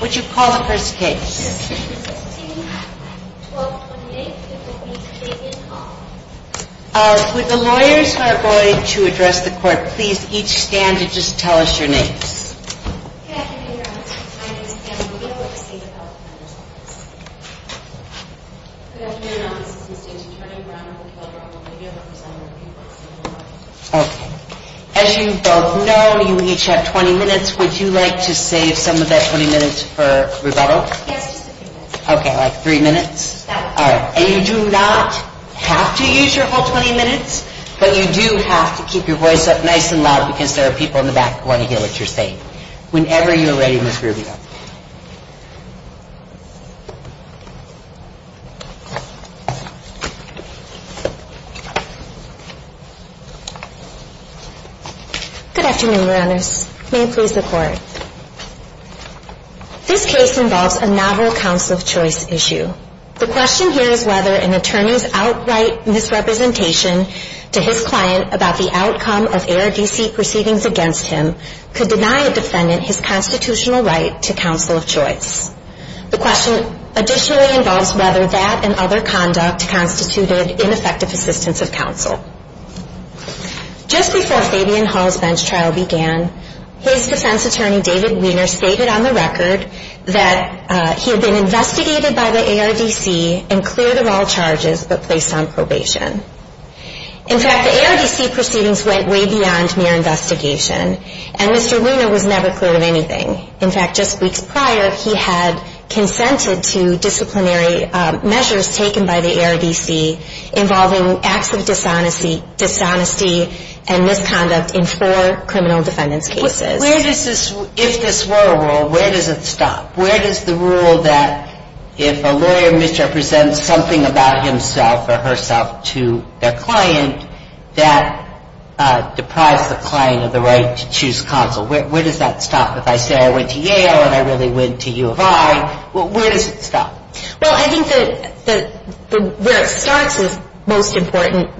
Would the lawyers who are going to address the court please each stand and just tell us your names? As you both know, you each have 20 minutes. Would you like to save some of that 20 minutes for rebuttal? Yes, just a few minutes. Okay, like three minutes? That would be great. And you do not have to use your whole 20 minutes, but you do have to keep your voice up nice and loud because there are people in the back who want to hear what you're saying. Whenever you're ready, Ms. Rubio. Good afternoon, Your Honors. May it please the Court. This case involves a novel counsel of choice issue. The question here is whether an attorney's outright misrepresentation to his client about the outcome of ARDC proceedings against him could deny a defendant his constitutional right to counsel of choice. The question additionally involves whether that and other conduct constituted ineffective assistance of counsel. Just before Fabian Hall's bench trial began, his defense attorney, David Wiener, stated on the record that he had been investigated by the ARDC and cleared of all charges but placed on probation. In fact, the ARDC proceedings went way beyond mere investigation, and Mr. Wiener was never cleared of anything. In fact, just weeks prior, he had consented to disciplinary measures taken by the ARDC involving acts of dishonesty and misconduct in four criminal defendants' cases. Where does this, if this were a rule, where does it stop? Where does the rule that if a lawyer misrepresents something about himself or herself to their client, that deprives the client of the right to choose counsel? Where does that stop? If I say I went to Yale and I really went to U of I, where does it stop? Well, I think that where it starts is most important.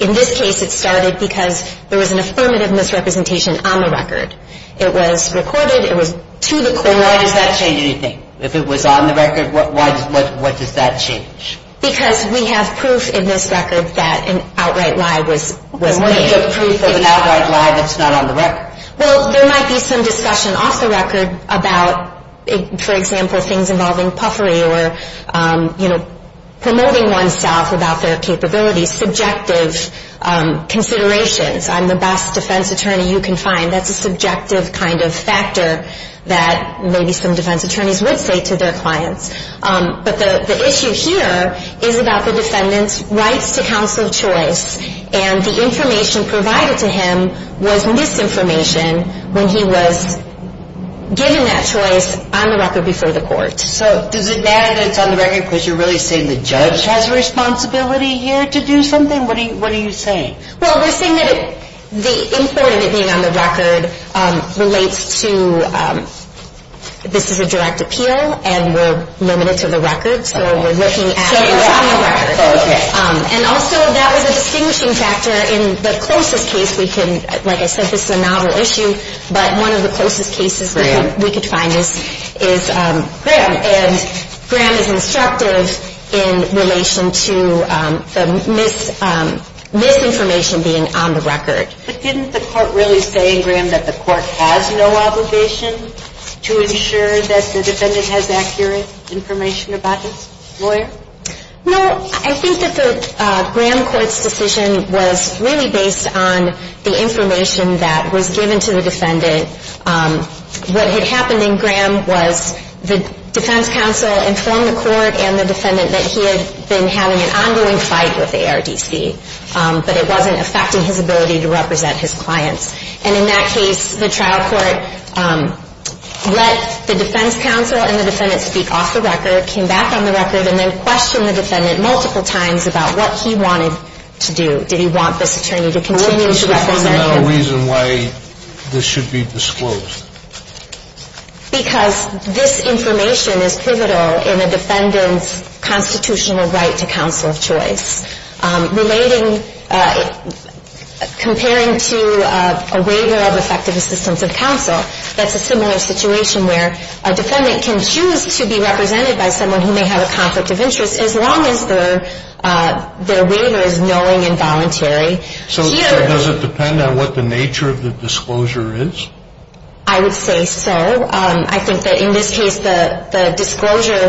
In this case, it started because there was an affirmative misrepresentation on the record. It was recorded. It was to the court. And why does that change anything? If it was on the record, what does that change? Because we have proof in this record that an outright lie was made. But what is the proof of an outright lie that's not on the record? Well, there might be some discussion off the record about, for example, things involving puffery or, you know, promoting oneself without their capabilities, subjective considerations. I'm the best defense attorney you can find. That's a subjective kind of factor that maybe some defense attorneys would say to their clients. But the issue here is about the defendant's rights to counsel choice. And the information provided to him was misinformation when he was given that choice on the record before the court. So does it matter that it's on the record because you're really saying the judge has a responsibility here to do something? What are you saying? Well, we're saying that the import of it being on the record relates to this is a direct appeal and we're limited to the record. So we're looking at it on the record. Oh, okay. And also that was a distinguishing factor in the closest case we can, like I said, this is a novel issue, but one of the closest cases we could find is Graham. And Graham is instructive in relation to the misinformation being on the record. But didn't the court really say in Graham that the court has no obligation to ensure that the defendant has accurate information about his lawyer? No, I think that the Graham court's decision was really based on the information that was given to the defendant. What had happened in Graham was the defense counsel informed the court and the defendant that he had been having an ongoing fight with the ARDC, but it wasn't affecting his ability to represent his clients. And in that case, the trial court let the defense counsel and the defendant speak off the record, came back on the record, and then questioned the defendant multiple times about what he wanted to do. Did he want this attorney to continue to represent him? What was the fundamental reason why this should be disclosed? Because this information is pivotal in a defendant's constitutional right to counsel of choice. Relating, comparing to a waiver of effective assistance of counsel, that's a similar situation where a defendant can choose to be represented by someone who may have a conflict of interest as long as their waiver is knowing and voluntary. So does it depend on what the nature of the disclosure is? I would say so. I think that in this case, the disclosure,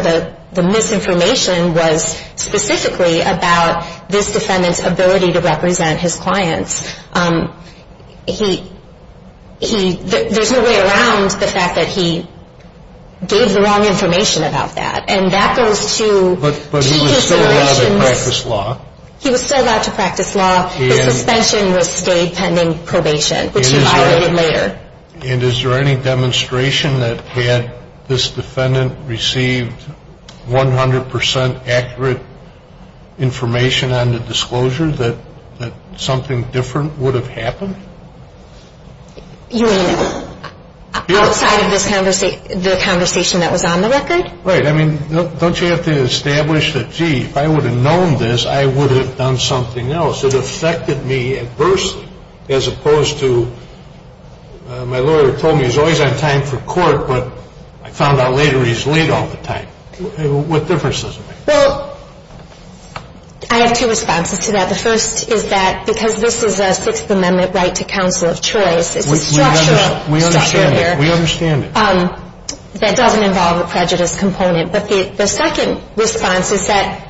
the misinformation was specifically about this defendant's ability to represent his clients. There's no way around the fact that he gave the wrong information about that. And that goes to two considerations. But he was still allowed to practice law. He was still allowed to practice law. The suspension was stayed pending probation, which he violated later. And is there any demonstration that had this defendant received 100 percent accurate information on the disclosure that something different would have happened? You mean outside of the conversation that was on the record? Right. I mean, don't you have to establish that, gee, if I would have known this, I would have done something else? It affected me adversely as opposed to my lawyer told me he's always on time for court, but I found out later he's late all the time. What difference does it make? Well, I have two responses to that. The first is that because this is a Sixth Amendment right to counsel of choice, it's a structural structure here. We understand it. That doesn't involve the prejudice component. But the second response is that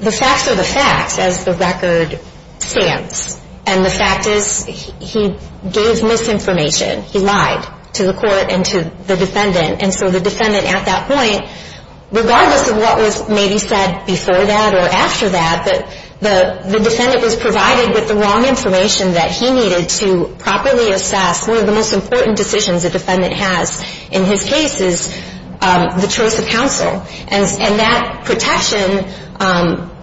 the facts are the facts as the record stands. And the fact is he gave misinformation. He lied to the court and to the defendant. And so the defendant at that point, regardless of what was maybe said before that or after that, the defendant was provided with the wrong information that he needed to properly assess. One of the most important decisions a defendant has in his case is the choice of counsel. And that protection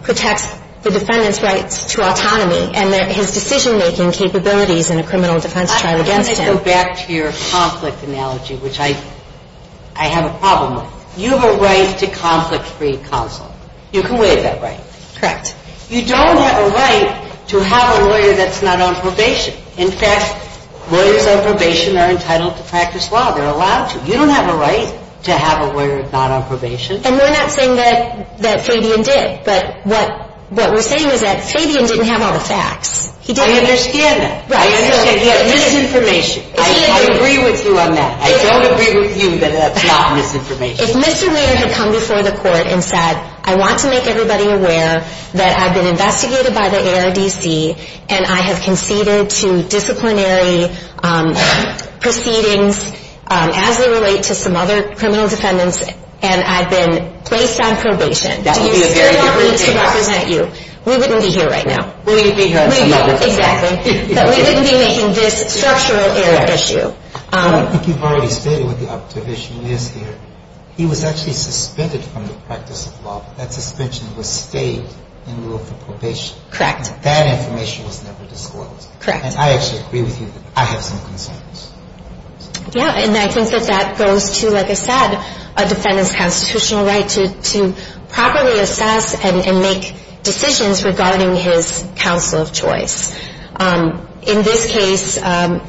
protects the defendant's rights to autonomy and his decision-making capabilities in a criminal defense trial against him. Let me go back to your conflict analogy, which I have a problem with. You have a right to conflict-free counsel. You can waive that right. Correct. You don't have a right to have a lawyer that's not on probation. In fact, lawyers on probation are entitled to practice law. They're allowed to. You don't have a right to have a lawyer not on probation. And we're not saying that Fabian did. But what we're saying is that Fabian didn't have all the facts. He didn't. I understand that. I understand. He had misinformation. I agree with you on that. I don't agree with you that that's not misinformation. If Mr. Weir had come before the court and said, I want to make everybody aware that I've been investigated by the ARDC and I have conceded to disciplinary proceedings as they relate to some other criminal defendants and I've been placed on probation. Do you still want me to represent you? We wouldn't be here right now. We'd be here at some other time. Exactly. But we wouldn't be making this structural error issue. I think you've already stated what the objective issue is here. He was actually suspended from the practice of law. That suspension was stayed in lieu of probation. Correct. That information was never disclosed. Correct. And I actually agree with you that I have some concerns. Yeah, and I think that that goes to, like I said, a defendant's constitutional right to properly assess and make decisions regarding his counsel of choice. In this case, how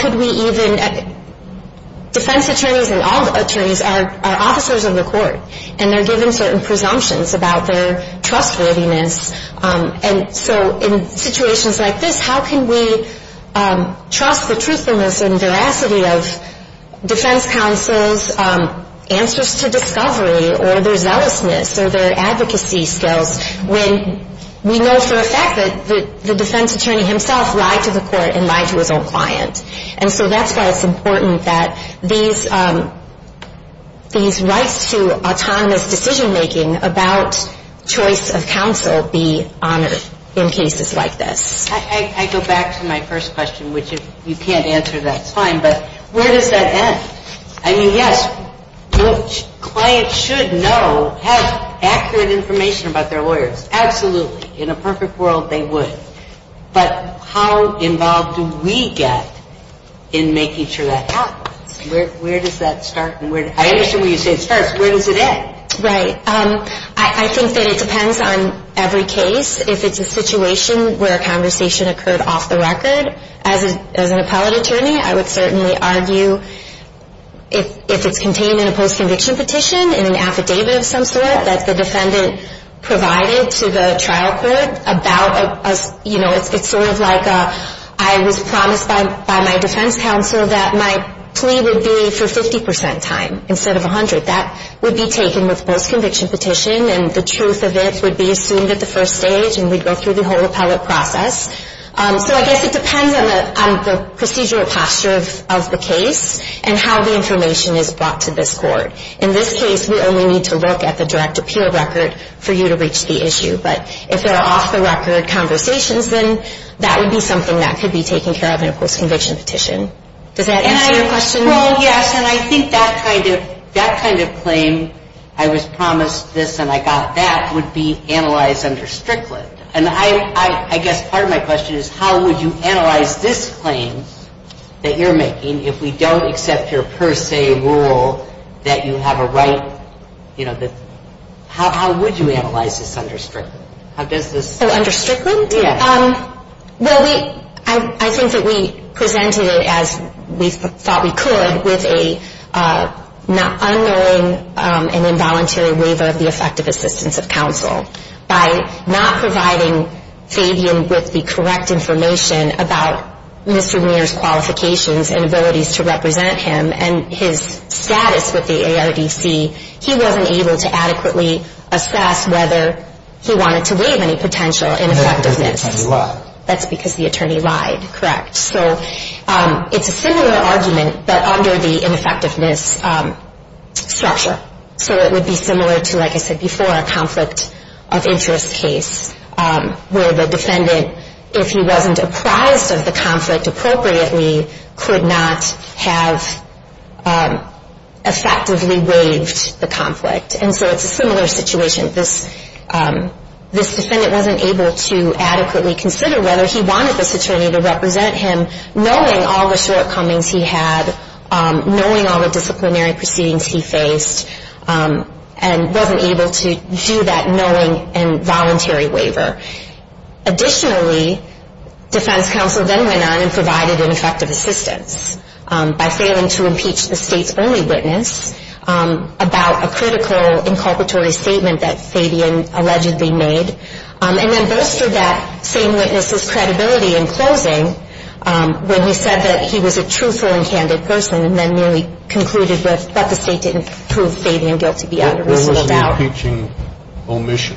could we even – defense attorneys and all attorneys are officers of the court and they're given certain presumptions about their trustworthiness. And so in situations like this, how can we trust the truthfulness and veracity of defense counsel's answers to discovery or their zealousness or their advocacy skills when we know for a fact that the defense attorney himself lied to the court and lied to his own client. And so that's why it's important that these rights to autonomous decision-making about choice of counsel be honored in cases like this. I go back to my first question, which if you can't answer, that's fine. But where does that end? I mean, yes, clients should know, have accurate information about their lawyers. Absolutely. In a perfect world, they would. But how involved do we get in making sure that happens? Where does that start? I understand when you say it starts. Where does it end? Right. I think that it depends on every case. If it's a situation where a conversation occurred off the record, as an appellate attorney, I would certainly argue if it's contained in a post-conviction petition in an affidavit of some sort that the defendant provided to the trial court about, you know, it's sort of like I was promised by my defense counsel that my plea would be for 50 percent time instead of 100. That would be taken with post-conviction petition, and the truth of it would be assumed at the first stage, and we'd go through the whole appellate process. So I guess it depends on the procedural posture of the case and how the information is brought to this court. In this case, we only need to look at the direct appeal record for you to reach the issue. But if there are off-the-record conversations, then that would be something that could be taken care of in a post-conviction petition. Does that answer your question? Well, yes, and I think that kind of claim, I was promised this and I got that, would be analyzed under Strickland. And I guess part of my question is how would you analyze this claim that you're making if we don't accept your per se rule that you have a right, you know, how would you analyze this under Strickland? So under Strickland? Yes. Well, I think that we presented it as we thought we could with an unknowing and involuntary waiver of the effective assistance of counsel. By not providing Fabian with the correct information about Mr. Muir's qualifications and abilities to represent him and his status with the ARDC, he wasn't able to adequately assess whether he wanted to waive any potential ineffectiveness. That's because the attorney lied. That's because the attorney lied, correct. So it's a similar argument, but under the ineffectiveness structure. So it would be similar to, like I said before, a conflict of interest case where the defendant, if he wasn't apprised of the conflict appropriately, could not have effectively waived the conflict. And so it's a similar situation. This defendant wasn't able to adequately consider whether he wanted this attorney to represent him, knowing all the shortcomings he had, knowing all the disciplinary proceedings he faced, and wasn't able to do that knowing and voluntary waiver. Additionally, defense counsel then went on and provided an effective assistance by failing to impeach the state's only witness about a critical inculpatory statement that Fabian allegedly made. And then boasted that same witness's credibility in closing when he said that he was a truthful and candid person and then merely concluded that the state didn't prove Fabian guilty beyond a reasonable doubt. What was the impeaching omission?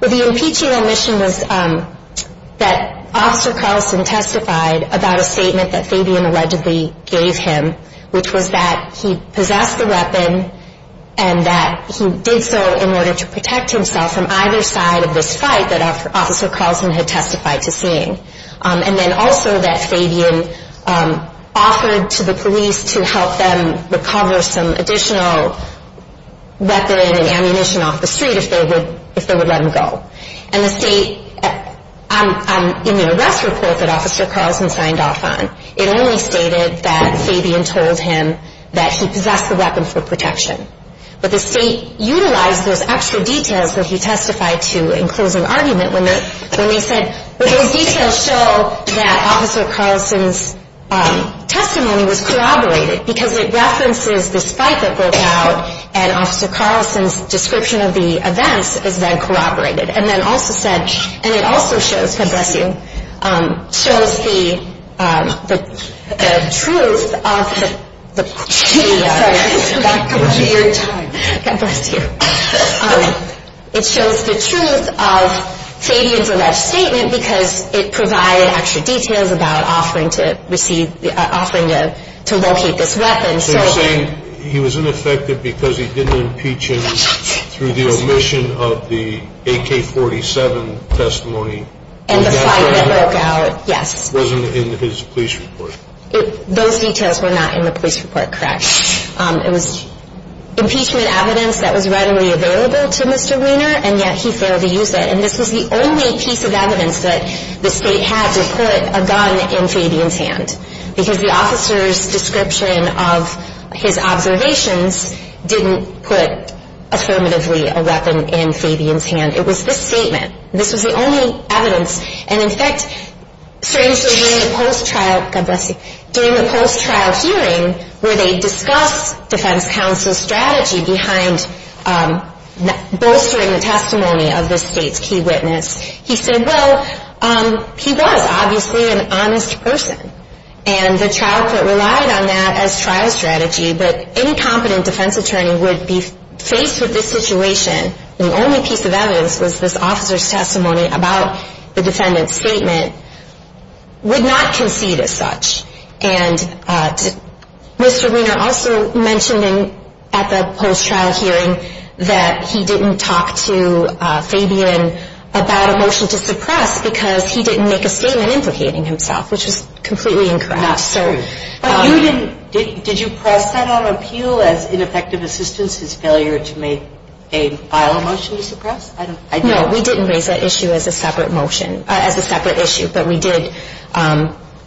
Well, the impeaching omission was that Officer Carlson testified about a statement that Fabian allegedly gave him, which was that he possessed the weapon and that he did so in order to protect himself from either side of this fight that Officer Carlson had testified to seeing. And then also that Fabian offered to the police to help them recover some additional weapon and ammunition off the street if they would let him go. And the state, in the arrest report that Officer Carlson signed off on, it only stated that Fabian told him that he possessed the weapon for protection. But the state utilized those extra details that he testified to in closing argument when they said, well, those details show that Officer Carlson's testimony was corroborated because it references this fight that broke out and Officer Carlson's description of the events is then corroborated. And it also shows the truth of Fabian's alleged statement because it provided extra details about offering to locate this weapon. So you're saying he was ineffective because he didn't impeach him through the omission of the AK-47 testimony. And the fight that broke out, yes. It wasn't in his police report. Those details were not in the police report, correct. It was impeachment evidence that was readily available to Mr. Weiner and yet he failed to use it. And this was the only piece of evidence that the state had to put a gun in Fabian's hand because the officer's description of his observations didn't put affirmatively a weapon in Fabian's hand. It was this statement. This was the only evidence. And in fact, strangely, during the post-trial hearing where they discussed defense counsel's strategy behind bolstering the testimony of this state's key witness, he said, well, he was obviously an honest person. And the trial court relied on that as trial strategy. But any competent defense attorney would be faced with this situation and the only piece of evidence was this officer's testimony about the defendant's statement, would not concede as such. And Mr. Weiner also mentioned at the post-trial hearing that he didn't talk to Fabian about a motion to suppress because he didn't make a statement implicating himself, which is completely incorrect. Not true. Did you press that on appeal as ineffective assistance, his failure to make a vial motion to suppress? No, we didn't raise that issue as a separate motion, as a separate issue. But we did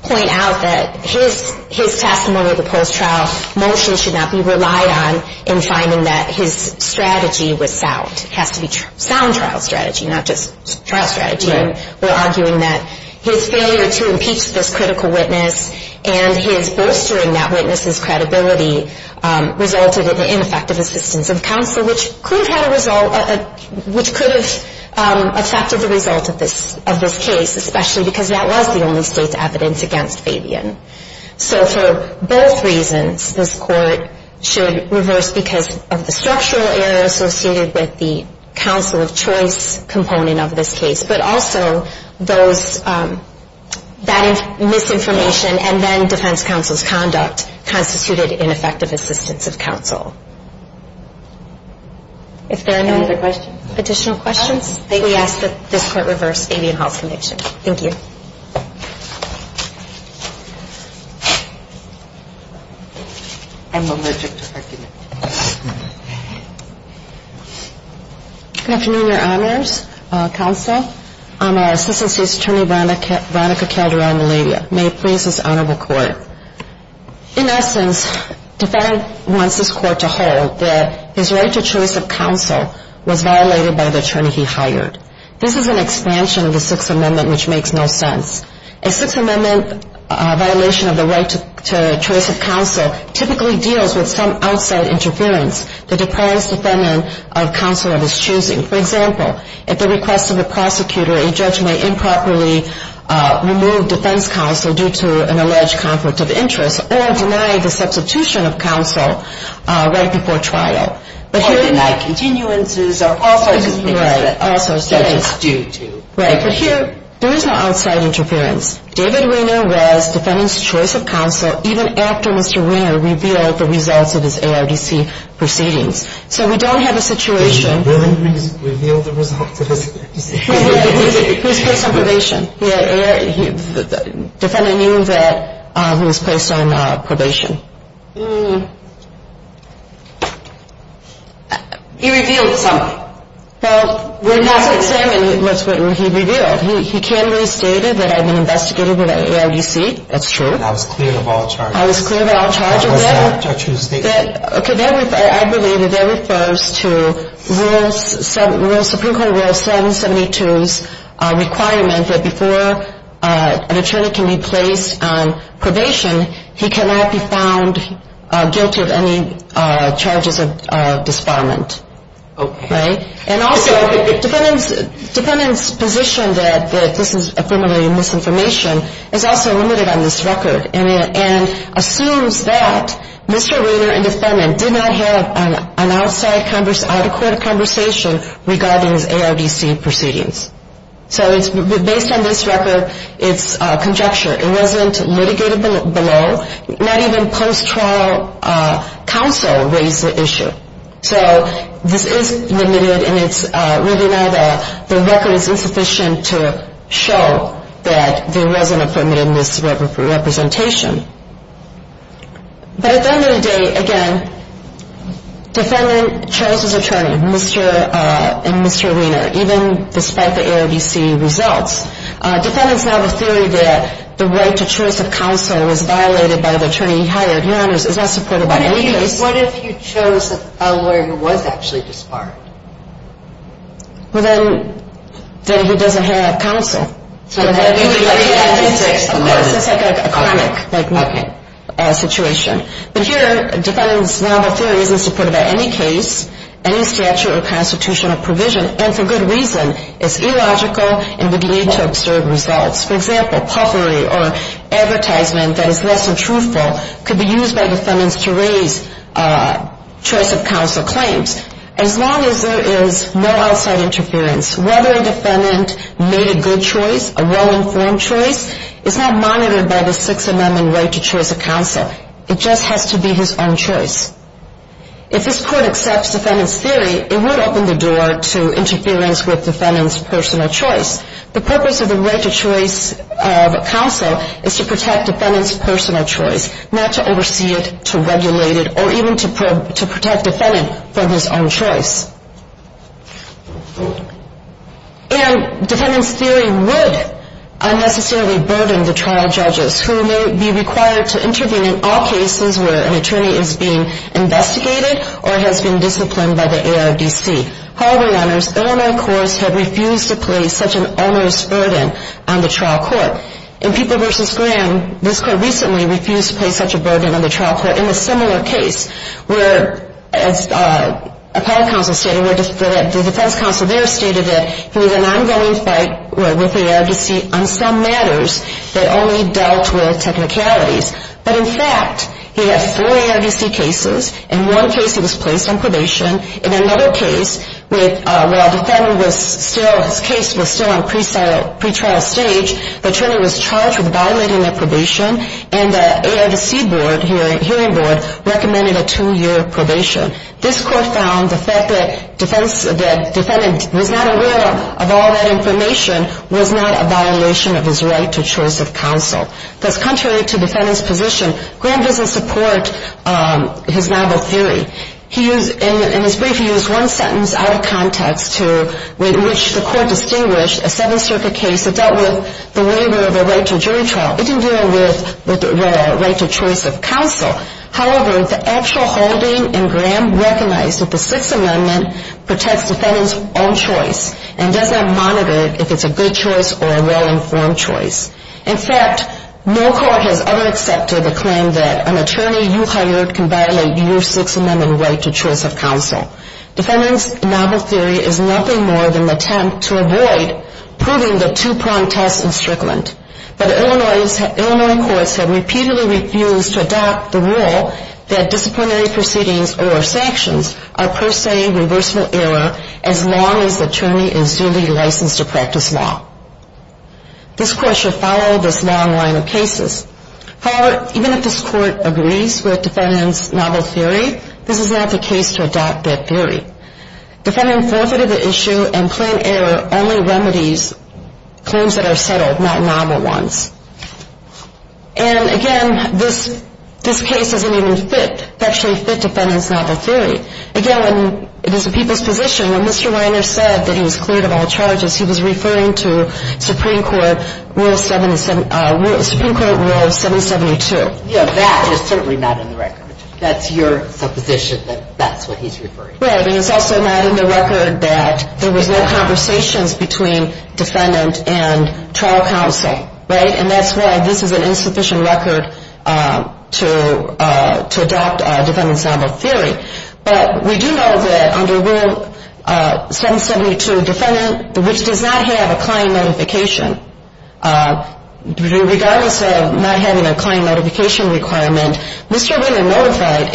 point out that his testimony at the post-trial motion should not be relied on in finding that his strategy was sound. It has to be sound trial strategy, not just trial strategy. Right. And we're arguing that his failure to impeach this critical witness and his bolstering that witness's credibility resulted in ineffective assistance of counsel, which could have affected the result of this case, especially because that was the only state's evidence against Fabian. So for both reasons, this Court should reverse because of the structural error associated with the counsel of choice component of this case, but also that misinformation and then defense counsel's conduct constituted ineffective assistance of counsel. If there are no additional questions, we ask that this Court reverse Fabian Hall's conviction. Thank you. I'm allergic to heckling. Good afternoon, Your Honors. Counsel, I'm Assistant State's Attorney, Veronica Calderon-Meledia. May it please this Honorable Court. In essence, Defendant wants this Court to hold that his right to choice of counsel was violated by the attorney he hired. This is an expansion of the Sixth Amendment, which makes no sense. A Sixth Amendment violation of the right to choice of counsel typically deals with some outside interference that deprives the defendant of counsel of his choosing. For example, at the request of the prosecutor, a judge may improperly remove defense counsel due to an alleged conflict of interest or deny the substitution of counsel right before trial. Or deny continuances or all sorts of things that a judge is due to. Right, but here, there is no outside interference. David Wiener was defendant's choice of counsel even after Mr. Wiener revealed the results of his ARDC proceedings. So we don't have a situation. Did Wiener reveal the results of his ARDC? He was placed on probation. Defendant knew that he was placed on probation. He revealed some. Well, when he was examined, that's what he revealed. He candidly stated that I've been investigated with an ARDC. That's true. I was cleared of all charges. I was cleared of all charges. That was the judge who stated that. Okay, I believe that that refers to Supreme Court Rule 772's requirement that before an attorney can be placed on probation, he cannot be found guilty of any charges of disbarment. Okay. Right? And also, defendant's position that this is affirmatively misinformation is also limited on this record and assumes that Mr. Wiener and defendant did not have an outside, adequate conversation regarding his ARDC proceedings. So based on this record, it's conjecture. It wasn't litigated below. Not even post-trial counsel raised the issue. So this is limited, and it's really now that the record is insufficient to show that there wasn't a permitted misrepresentation. But at the end of the day, again, defendant chose his attorney, Mr. and Mr. Wiener, even despite the ARDC results. Defendants now have a theory that the right to choice of counsel was violated by the attorney he hired. Your Honor, it's not supported by any case. What if you chose a lawyer who was actually disbarred? Well, then he doesn't have counsel. So that would be like a comic situation. But here, defendant's novel theory isn't supported by any case, any statute or constitutional provision, and for good reason. It's illogical and would lead to absurd results. For example, puffery or advertisement that is less than truthful could be used by defendants to raise choice of counsel claims. As long as there is no outside interference, whether a defendant made a good choice, a well-informed choice, is not monitored by the Sixth Amendment right to choice of counsel. It just has to be his own choice. If this Court accepts defendant's theory, it would open the door to interference with defendant's personal choice. The purpose of the right to choice of counsel is to protect defendant's personal choice, not to oversee it, to regulate it, or even to protect defendant from his own choice. And defendant's theory would unnecessarily burden the trial judges who may be required to intervene in all cases where an attorney is being investigated or has been disciplined by the ARDC. However, Your Honors, Illinois courts have refused to place such an onerous burden on the trial court. In People v. Graham, this Court recently refused to place such a burden on the trial court in a similar case where, as appellate counsel stated, the defense counsel there stated that he had an ongoing fight with the ARDC on some matters that only dealt with technicalities. But, in fact, he had four ARDC cases. In one case, he was placed on probation. In another case, while his case was still on pretrial stage, the attorney was charged with violating the probation, and the ARDC hearing board recommended a two-year probation. This Court found the fact that the defendant was not aware of all that information was not a violation of his right to choice of counsel. Thus, contrary to defendant's position, Graham doesn't support his novel theory. In his brief, he used one sentence out of context in which the Court distinguished a Seventh Circuit case that dealt with the waiver of a right to jury trial. It didn't deal with the right to choice of counsel. However, the actual holding in Graham recognized that the Sixth Amendment protects defendant's own choice and does not monitor if it's a good choice or a well-informed choice. In fact, no court has ever accepted a claim that an attorney you hired can violate your Sixth Amendment right to choice of counsel. Defendant's novel theory is nothing more than an attempt to avoid proving the two-pronged test in Strickland. But Illinois courts have repeatedly refused to adopt the rule that disciplinary proceedings or sanctions are per se reversible error as long as the attorney is duly licensed to practice law. This Court should follow this long line of cases. However, even if this Court agrees with defendant's novel theory, this is not the case to adopt that theory. Defendant forfeited the issue and plain error only remedies claims that are settled, not novel ones. And again, this case doesn't even fit, actually fit defendant's novel theory. Again, when it is a people's position, when Mr. Reiner said that he was cleared of all charges, he was referring to Supreme Court Rule 772. Yeah, that is certainly not in the record. That's your supposition that that's what he's referring to. Right, and it's also not in the record that there was no conversations between defendant and trial counsel, right? And that's why this is an insufficient record to adopt defendant's novel theory. But we do know that under Rule 772, defendant which does not have a client notification, regardless of not having a client notification requirement, Mr. Reiner notified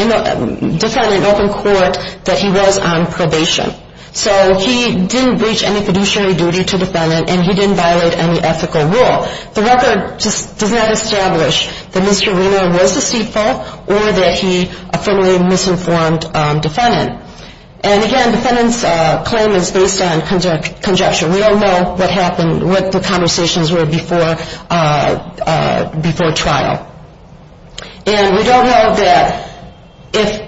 defendant in open court that he was on probation. So he didn't breach any fiduciary duty to defendant, and he didn't violate any ethical rule. The record just does not establish that Mr. Reiner was deceitful or that he affirmatively misinformed defendant. And again, defendant's claim is based on conjecture. We don't know what happened, what the conversations were before trial. And we don't know that if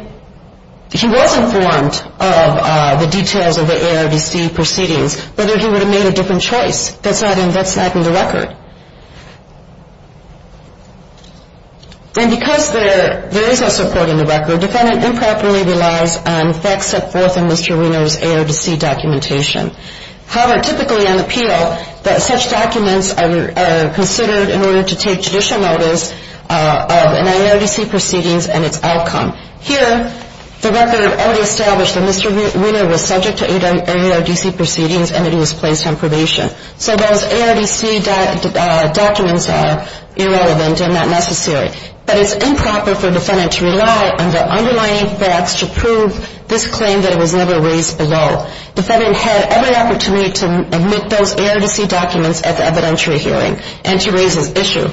he was informed of the details of the ARDC proceedings, whether he would have made a different choice. That's not in the record. And because there is no support in the record, defendant improperly relies on facts set forth in Mr. Reiner's ARDC documentation. However, typically on appeal, such documents are considered in order to take judicial notice of an ARDC proceedings and its outcome. Here, the record already established that Mr. Reiner was subject to ARDC proceedings and that he was placed on probation. So those ARDC documents are irrelevant and not necessary. But it's improper for defendant to rely on the underlying facts to prove this claim that it was never raised below. Defendant had every opportunity to omit those ARDC documents at the evidentiary hearing and to raise his issue.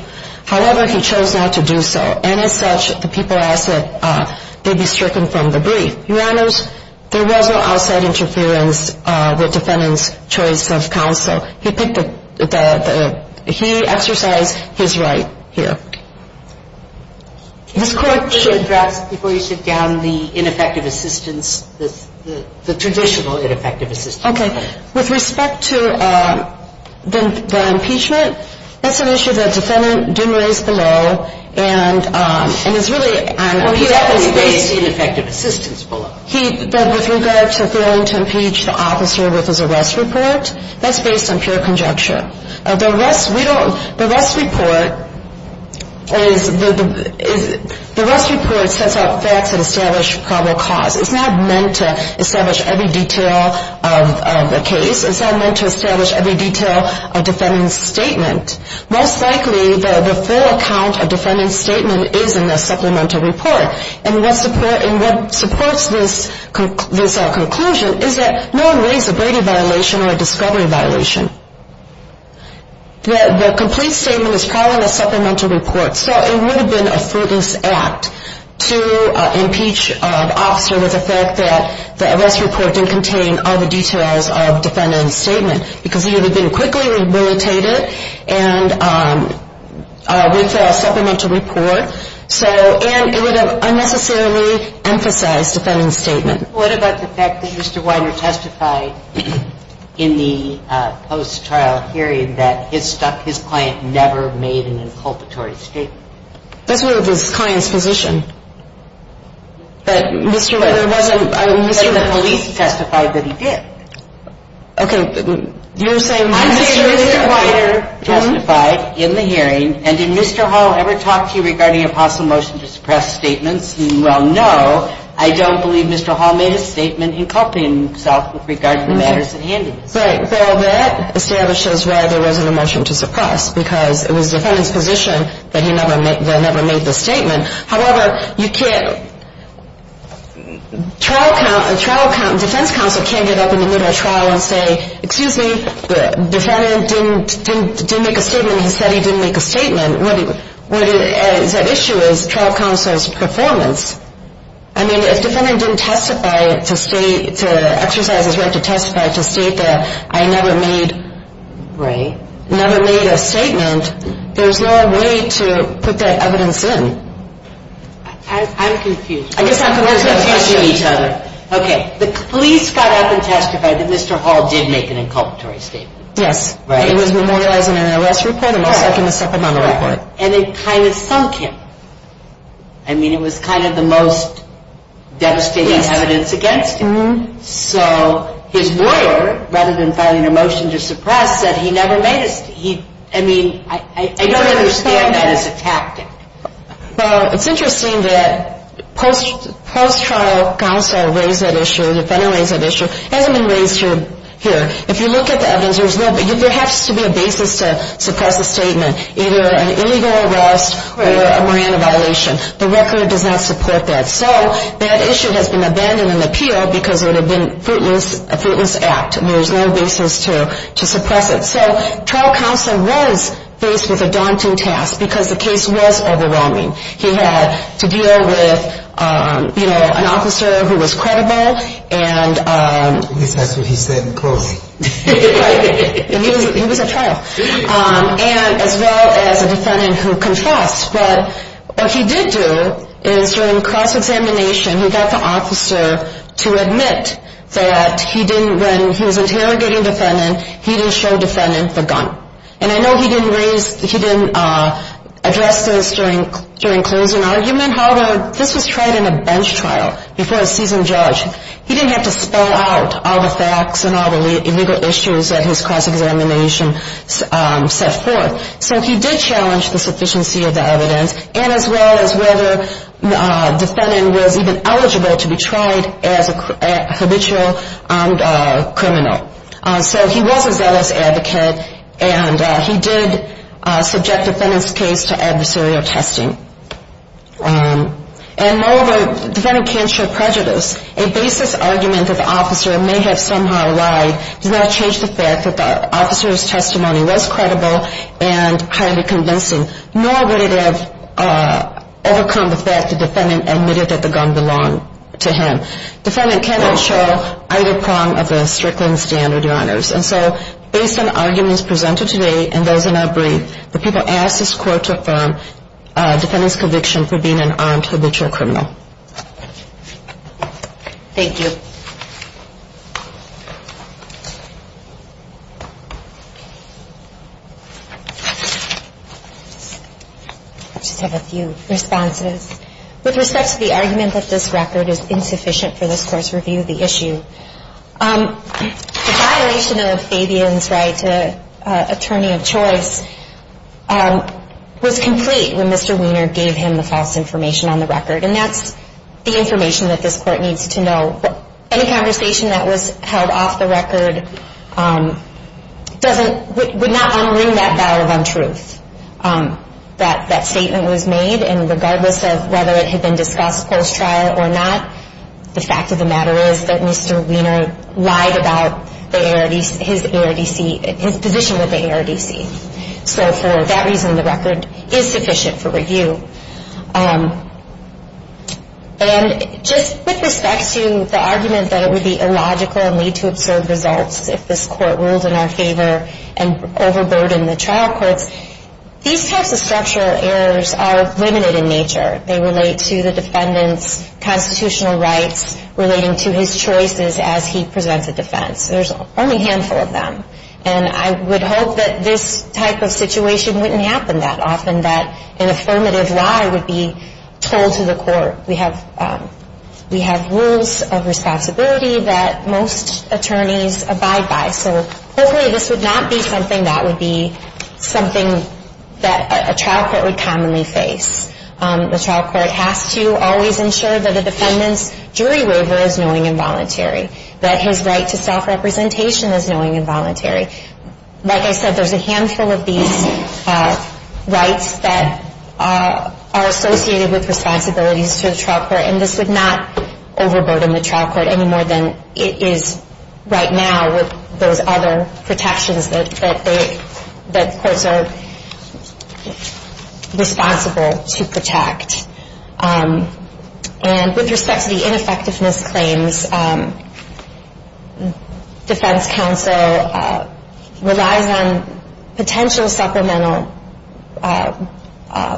However, he chose not to do so. And as such, the people asked that they be stricken from the brief. Your Honors, there was no outside interference with defendant's choice of counsel. He picked the – he exercised his right here. This Court should – Could you address before you sit down the ineffective assistance, the traditional ineffective assistance? Okay. With respect to the impeachment, that's an issue the defendant didn't raise below. And it's really – Well, he definitely raised ineffective assistance below. He – with regard to failing to impeach the officer with his arrest report, that's based on pure conjecture. The arrest – we don't – the arrest report is – the arrest report sets out facts that establish probable cause. It's not meant to establish every detail of the case. It's not meant to establish every detail of defendant's statement. Most likely, the full account of defendant's statement is in the supplemental report. And what supports this conclusion is that no one raised a Brady violation or a discovery violation. The complete statement is probably in the supplemental report. So it would have been a fruitless act to impeach an officer with the fact that the arrest report didn't contain all the details of defendant's statement because he would have been quickly rehabilitated and with a supplemental report. What about the fact that Mr. Weiner testified in the post-trial hearing that his client never made an inculpatory statement? That's where the client's position. But Mr. Weiner wasn't – But the police testified that he did. Okay. You're saying – I'm saying Mr. Weiner testified in the hearing. And did Mr. Hall ever talk to you regarding a possible motion to suppress statements? Well, no. I don't believe Mr. Hall made a statement inculping himself with regard to the matters at hand. Right. Well, that establishes why there wasn't a motion to suppress because it was the defendant's position that he never made the statement. However, you can't – trial – defense counsel can't get up in the middle of a trial and say, excuse me, the defendant didn't make a statement. He said he didn't make a statement. What is at issue is trial counsel's performance. I mean, if the defendant didn't testify to state – to exercise his right to testify to state that I never made – Right. Never made a statement, there's no way to put that evidence in. I'm confused. I guess I'm confused as well. Okay. The police got up and testified that Mr. Hall did make an inculpatory statement. Yes. Right. It was memorialized in an arrest report and was second and second on the report. And it kind of sunk him. I mean, it was kind of the most devastating evidence against him. Yes. So his lawyer, rather than filing a motion to suppress, said he never made a – he – I mean, I don't understand that as a tactic. Well, it's interesting that post-trial counsel raised that issue, the defendant raised that issue. It hasn't been raised here. If you look at the evidence, there's no – there has to be a basis to suppress a statement, either an illegal arrest or a Miranda violation. The record does not support that. So that issue has been abandoned in the appeal because it would have been a fruitless act. I mean, there's no basis to suppress it. So trial counsel was faced with a daunting task because the case was overwhelming. He had to deal with, you know, an officer who was credible and – and he was at trial, as well as a defendant who confessed. But what he did do is during cross-examination, he got the officer to admit that he didn't – when he was interrogating the defendant, he didn't show the defendant the gun. And I know he didn't raise – he didn't address this during closing argument. However, this was tried in a bench trial before a seasoned judge. He didn't have to spell out all the facts and all the legal issues that his cross-examination set forth. So he did challenge the sufficiency of the evidence, and as well as whether the defendant was even eligible to be tried as a habitual criminal. So he was a zealous advocate, and he did subject the defendant's case to adversarial testing. And no, the defendant can't show prejudice. A basis argument that the officer may have somehow lied does not change the fact that the officer's testimony was credible and highly convincing, nor would it have overcome the fact the defendant admitted that the gun belonged to him. The defendant cannot show either prong of the Strickland standard, Your Honors. And so based on arguments presented today and those in our brief, the people asked this Court to affirm the defendant's conviction for being an armed habitual criminal. Thank you. I just have a few responses. With respect to the argument that this record is insufficient for this Court's review of the issue, the violation of Fabian's right to attorney of choice was complete when Mr. Wiener gave him the false information on the record, and that's the information that this Court needs to know. Any conversation that was held off the record would not unring that bell of untruth. That statement was made, and regardless of whether it had been discussed post-trial or not, the fact of the matter is that Mr. Wiener lied about his position with the ARDC. So for that reason, the record is sufficient for review. And just with respect to the argument that it would be illogical and need to observe results if this Court ruled in our favor and overburdened the trial courts, these types of structural errors are limited in nature. They relate to the defendant's constitutional rights relating to his choices as he presents a defense. There's only a handful of them. And I would hope that this type of situation wouldn't happen that often, that an affirmative lie would be told to the court. We have rules of responsibility that most attorneys abide by, so hopefully this would not be something that would be something that a trial court would commonly face. The trial court has to always ensure that the defendant's jury waiver is knowing and voluntary, that his right to self-representation is knowing and voluntary. Like I said, there's a handful of these rights that are associated with responsibilities to the trial court, and this would not overburden the trial court any more than it is right now with those other protections that courts are responsible to protect. And with respect to the ineffectiveness claims, defense counsel relies on potential supplemental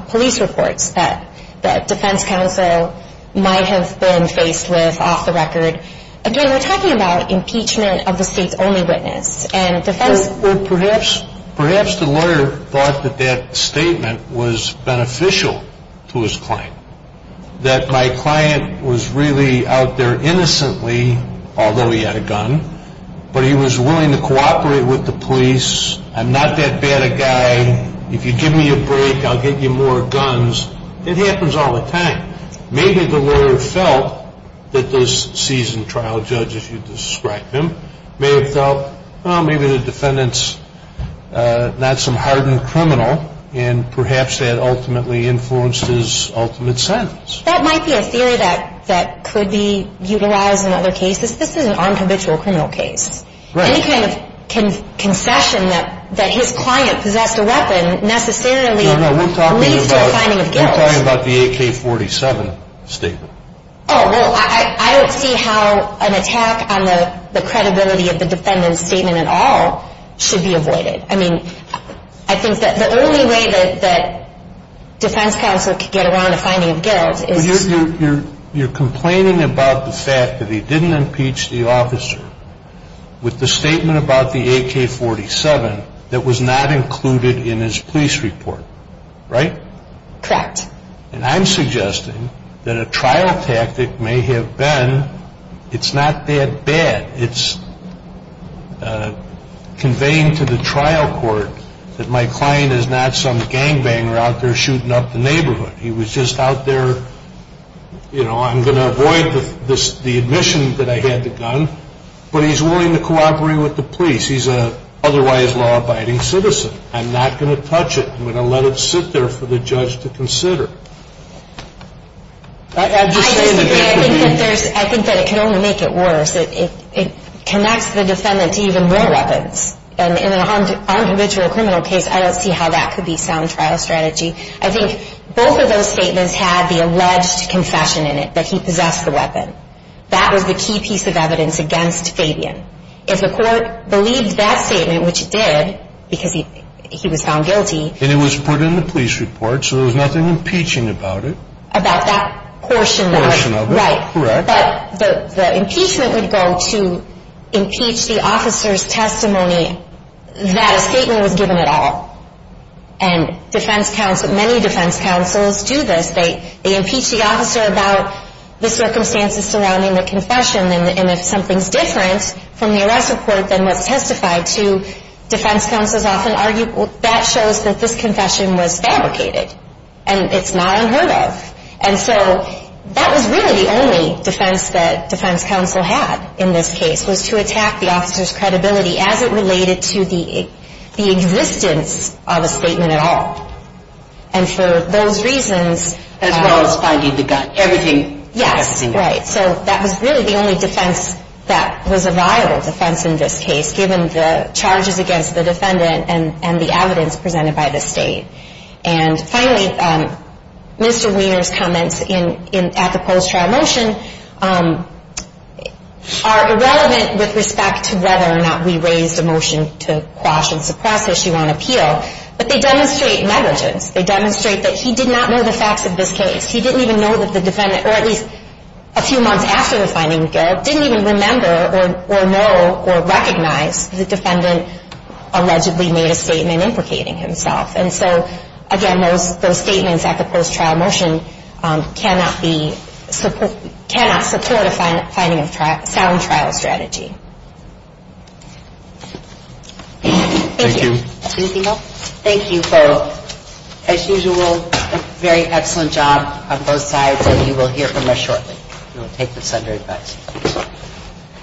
police reports that defense counsel might have been faced with off the record. Again, we're talking about impeachment of the state's only witness. Perhaps the lawyer thought that that statement was beneficial to his client, that my client was really out there innocently, although he had a gun, but he was willing to cooperate with the police. I'm not that bad a guy. If you give me a break, I'll get you more guns. It happens all the time. Maybe the lawyer felt that this seasoned trial judge, if you'd describe him, may have felt, well, maybe the defendant's not some hardened criminal, and perhaps that ultimately influenced his ultimate sentence. That might be a theory that could be utilized in other cases. This is an unhabitual criminal case. Any kind of concession that his client possessed a weapon necessarily leads to a finding of guilt. Are you talking about the AK-47 statement? Oh, well, I don't see how an attack on the credibility of the defendant's statement at all should be avoided. I mean, I think that the only way that defense counsel could get around a finding of guilt is to... You're complaining about the fact that he didn't impeach the officer with the statement about the AK-47 that was not included in his police report, right? Correct. And I'm suggesting that a trial tactic may have been, it's not that bad. It's conveying to the trial court that my client is not some gangbanger out there shooting up the neighborhood. He was just out there, you know, I'm going to avoid the admission that I had the gun, but he's willing to cooperate with the police. He's an otherwise law-abiding citizen. I'm not going to touch it. I'm going to let it sit there for the judge to consider. I disagree. I think that it can only make it worse. It connects the defendant to even more weapons. And in an unconditional criminal case, I don't see how that could be sound trial strategy. I think both of those statements had the alleged confession in it that he possessed the weapon. That was the key piece of evidence against Fabian. If the court believed that statement, which it did, because he was found guilty. And it was put in the police report, so there was nothing impeaching about it. About that portion of it. Right. Correct. But the impeachment would go to impeach the officer's testimony that a statement was given at all. And defense counsel, many defense counsels do this. They impeach the officer about the circumstances surrounding the confession. And if something's different from the arrest report than was testified to, defense counsels often argue, well, that shows that this confession was fabricated. And it's not unheard of. And so that was really the only defense that defense counsel had in this case, was to attack the officer's credibility as it related to the existence of a statement at all. And for those reasons. As well as finding the gun. Everything. Yes. Right. So that was really the only defense that was a viable defense in this case, given the charges against the defendant and the evidence presented by the state. And finally, Mr. Wiener's comments at the post-trial motion are irrelevant with respect to whether or not we raised a motion to quash and suppress issue on appeal. But they demonstrate negligence. They demonstrate that he did not know the facts of this case. He didn't even know that the defendant, or at least a few months after the finding, didn't even remember or know or recognize the defendant allegedly made a statement implicating himself. And so, again, those statements at the post-trial motion cannot support a sound trial strategy. Thank you. Thank you. As usual, very excellent job on both sides. And you will hear from us shortly. We'll take this under advice.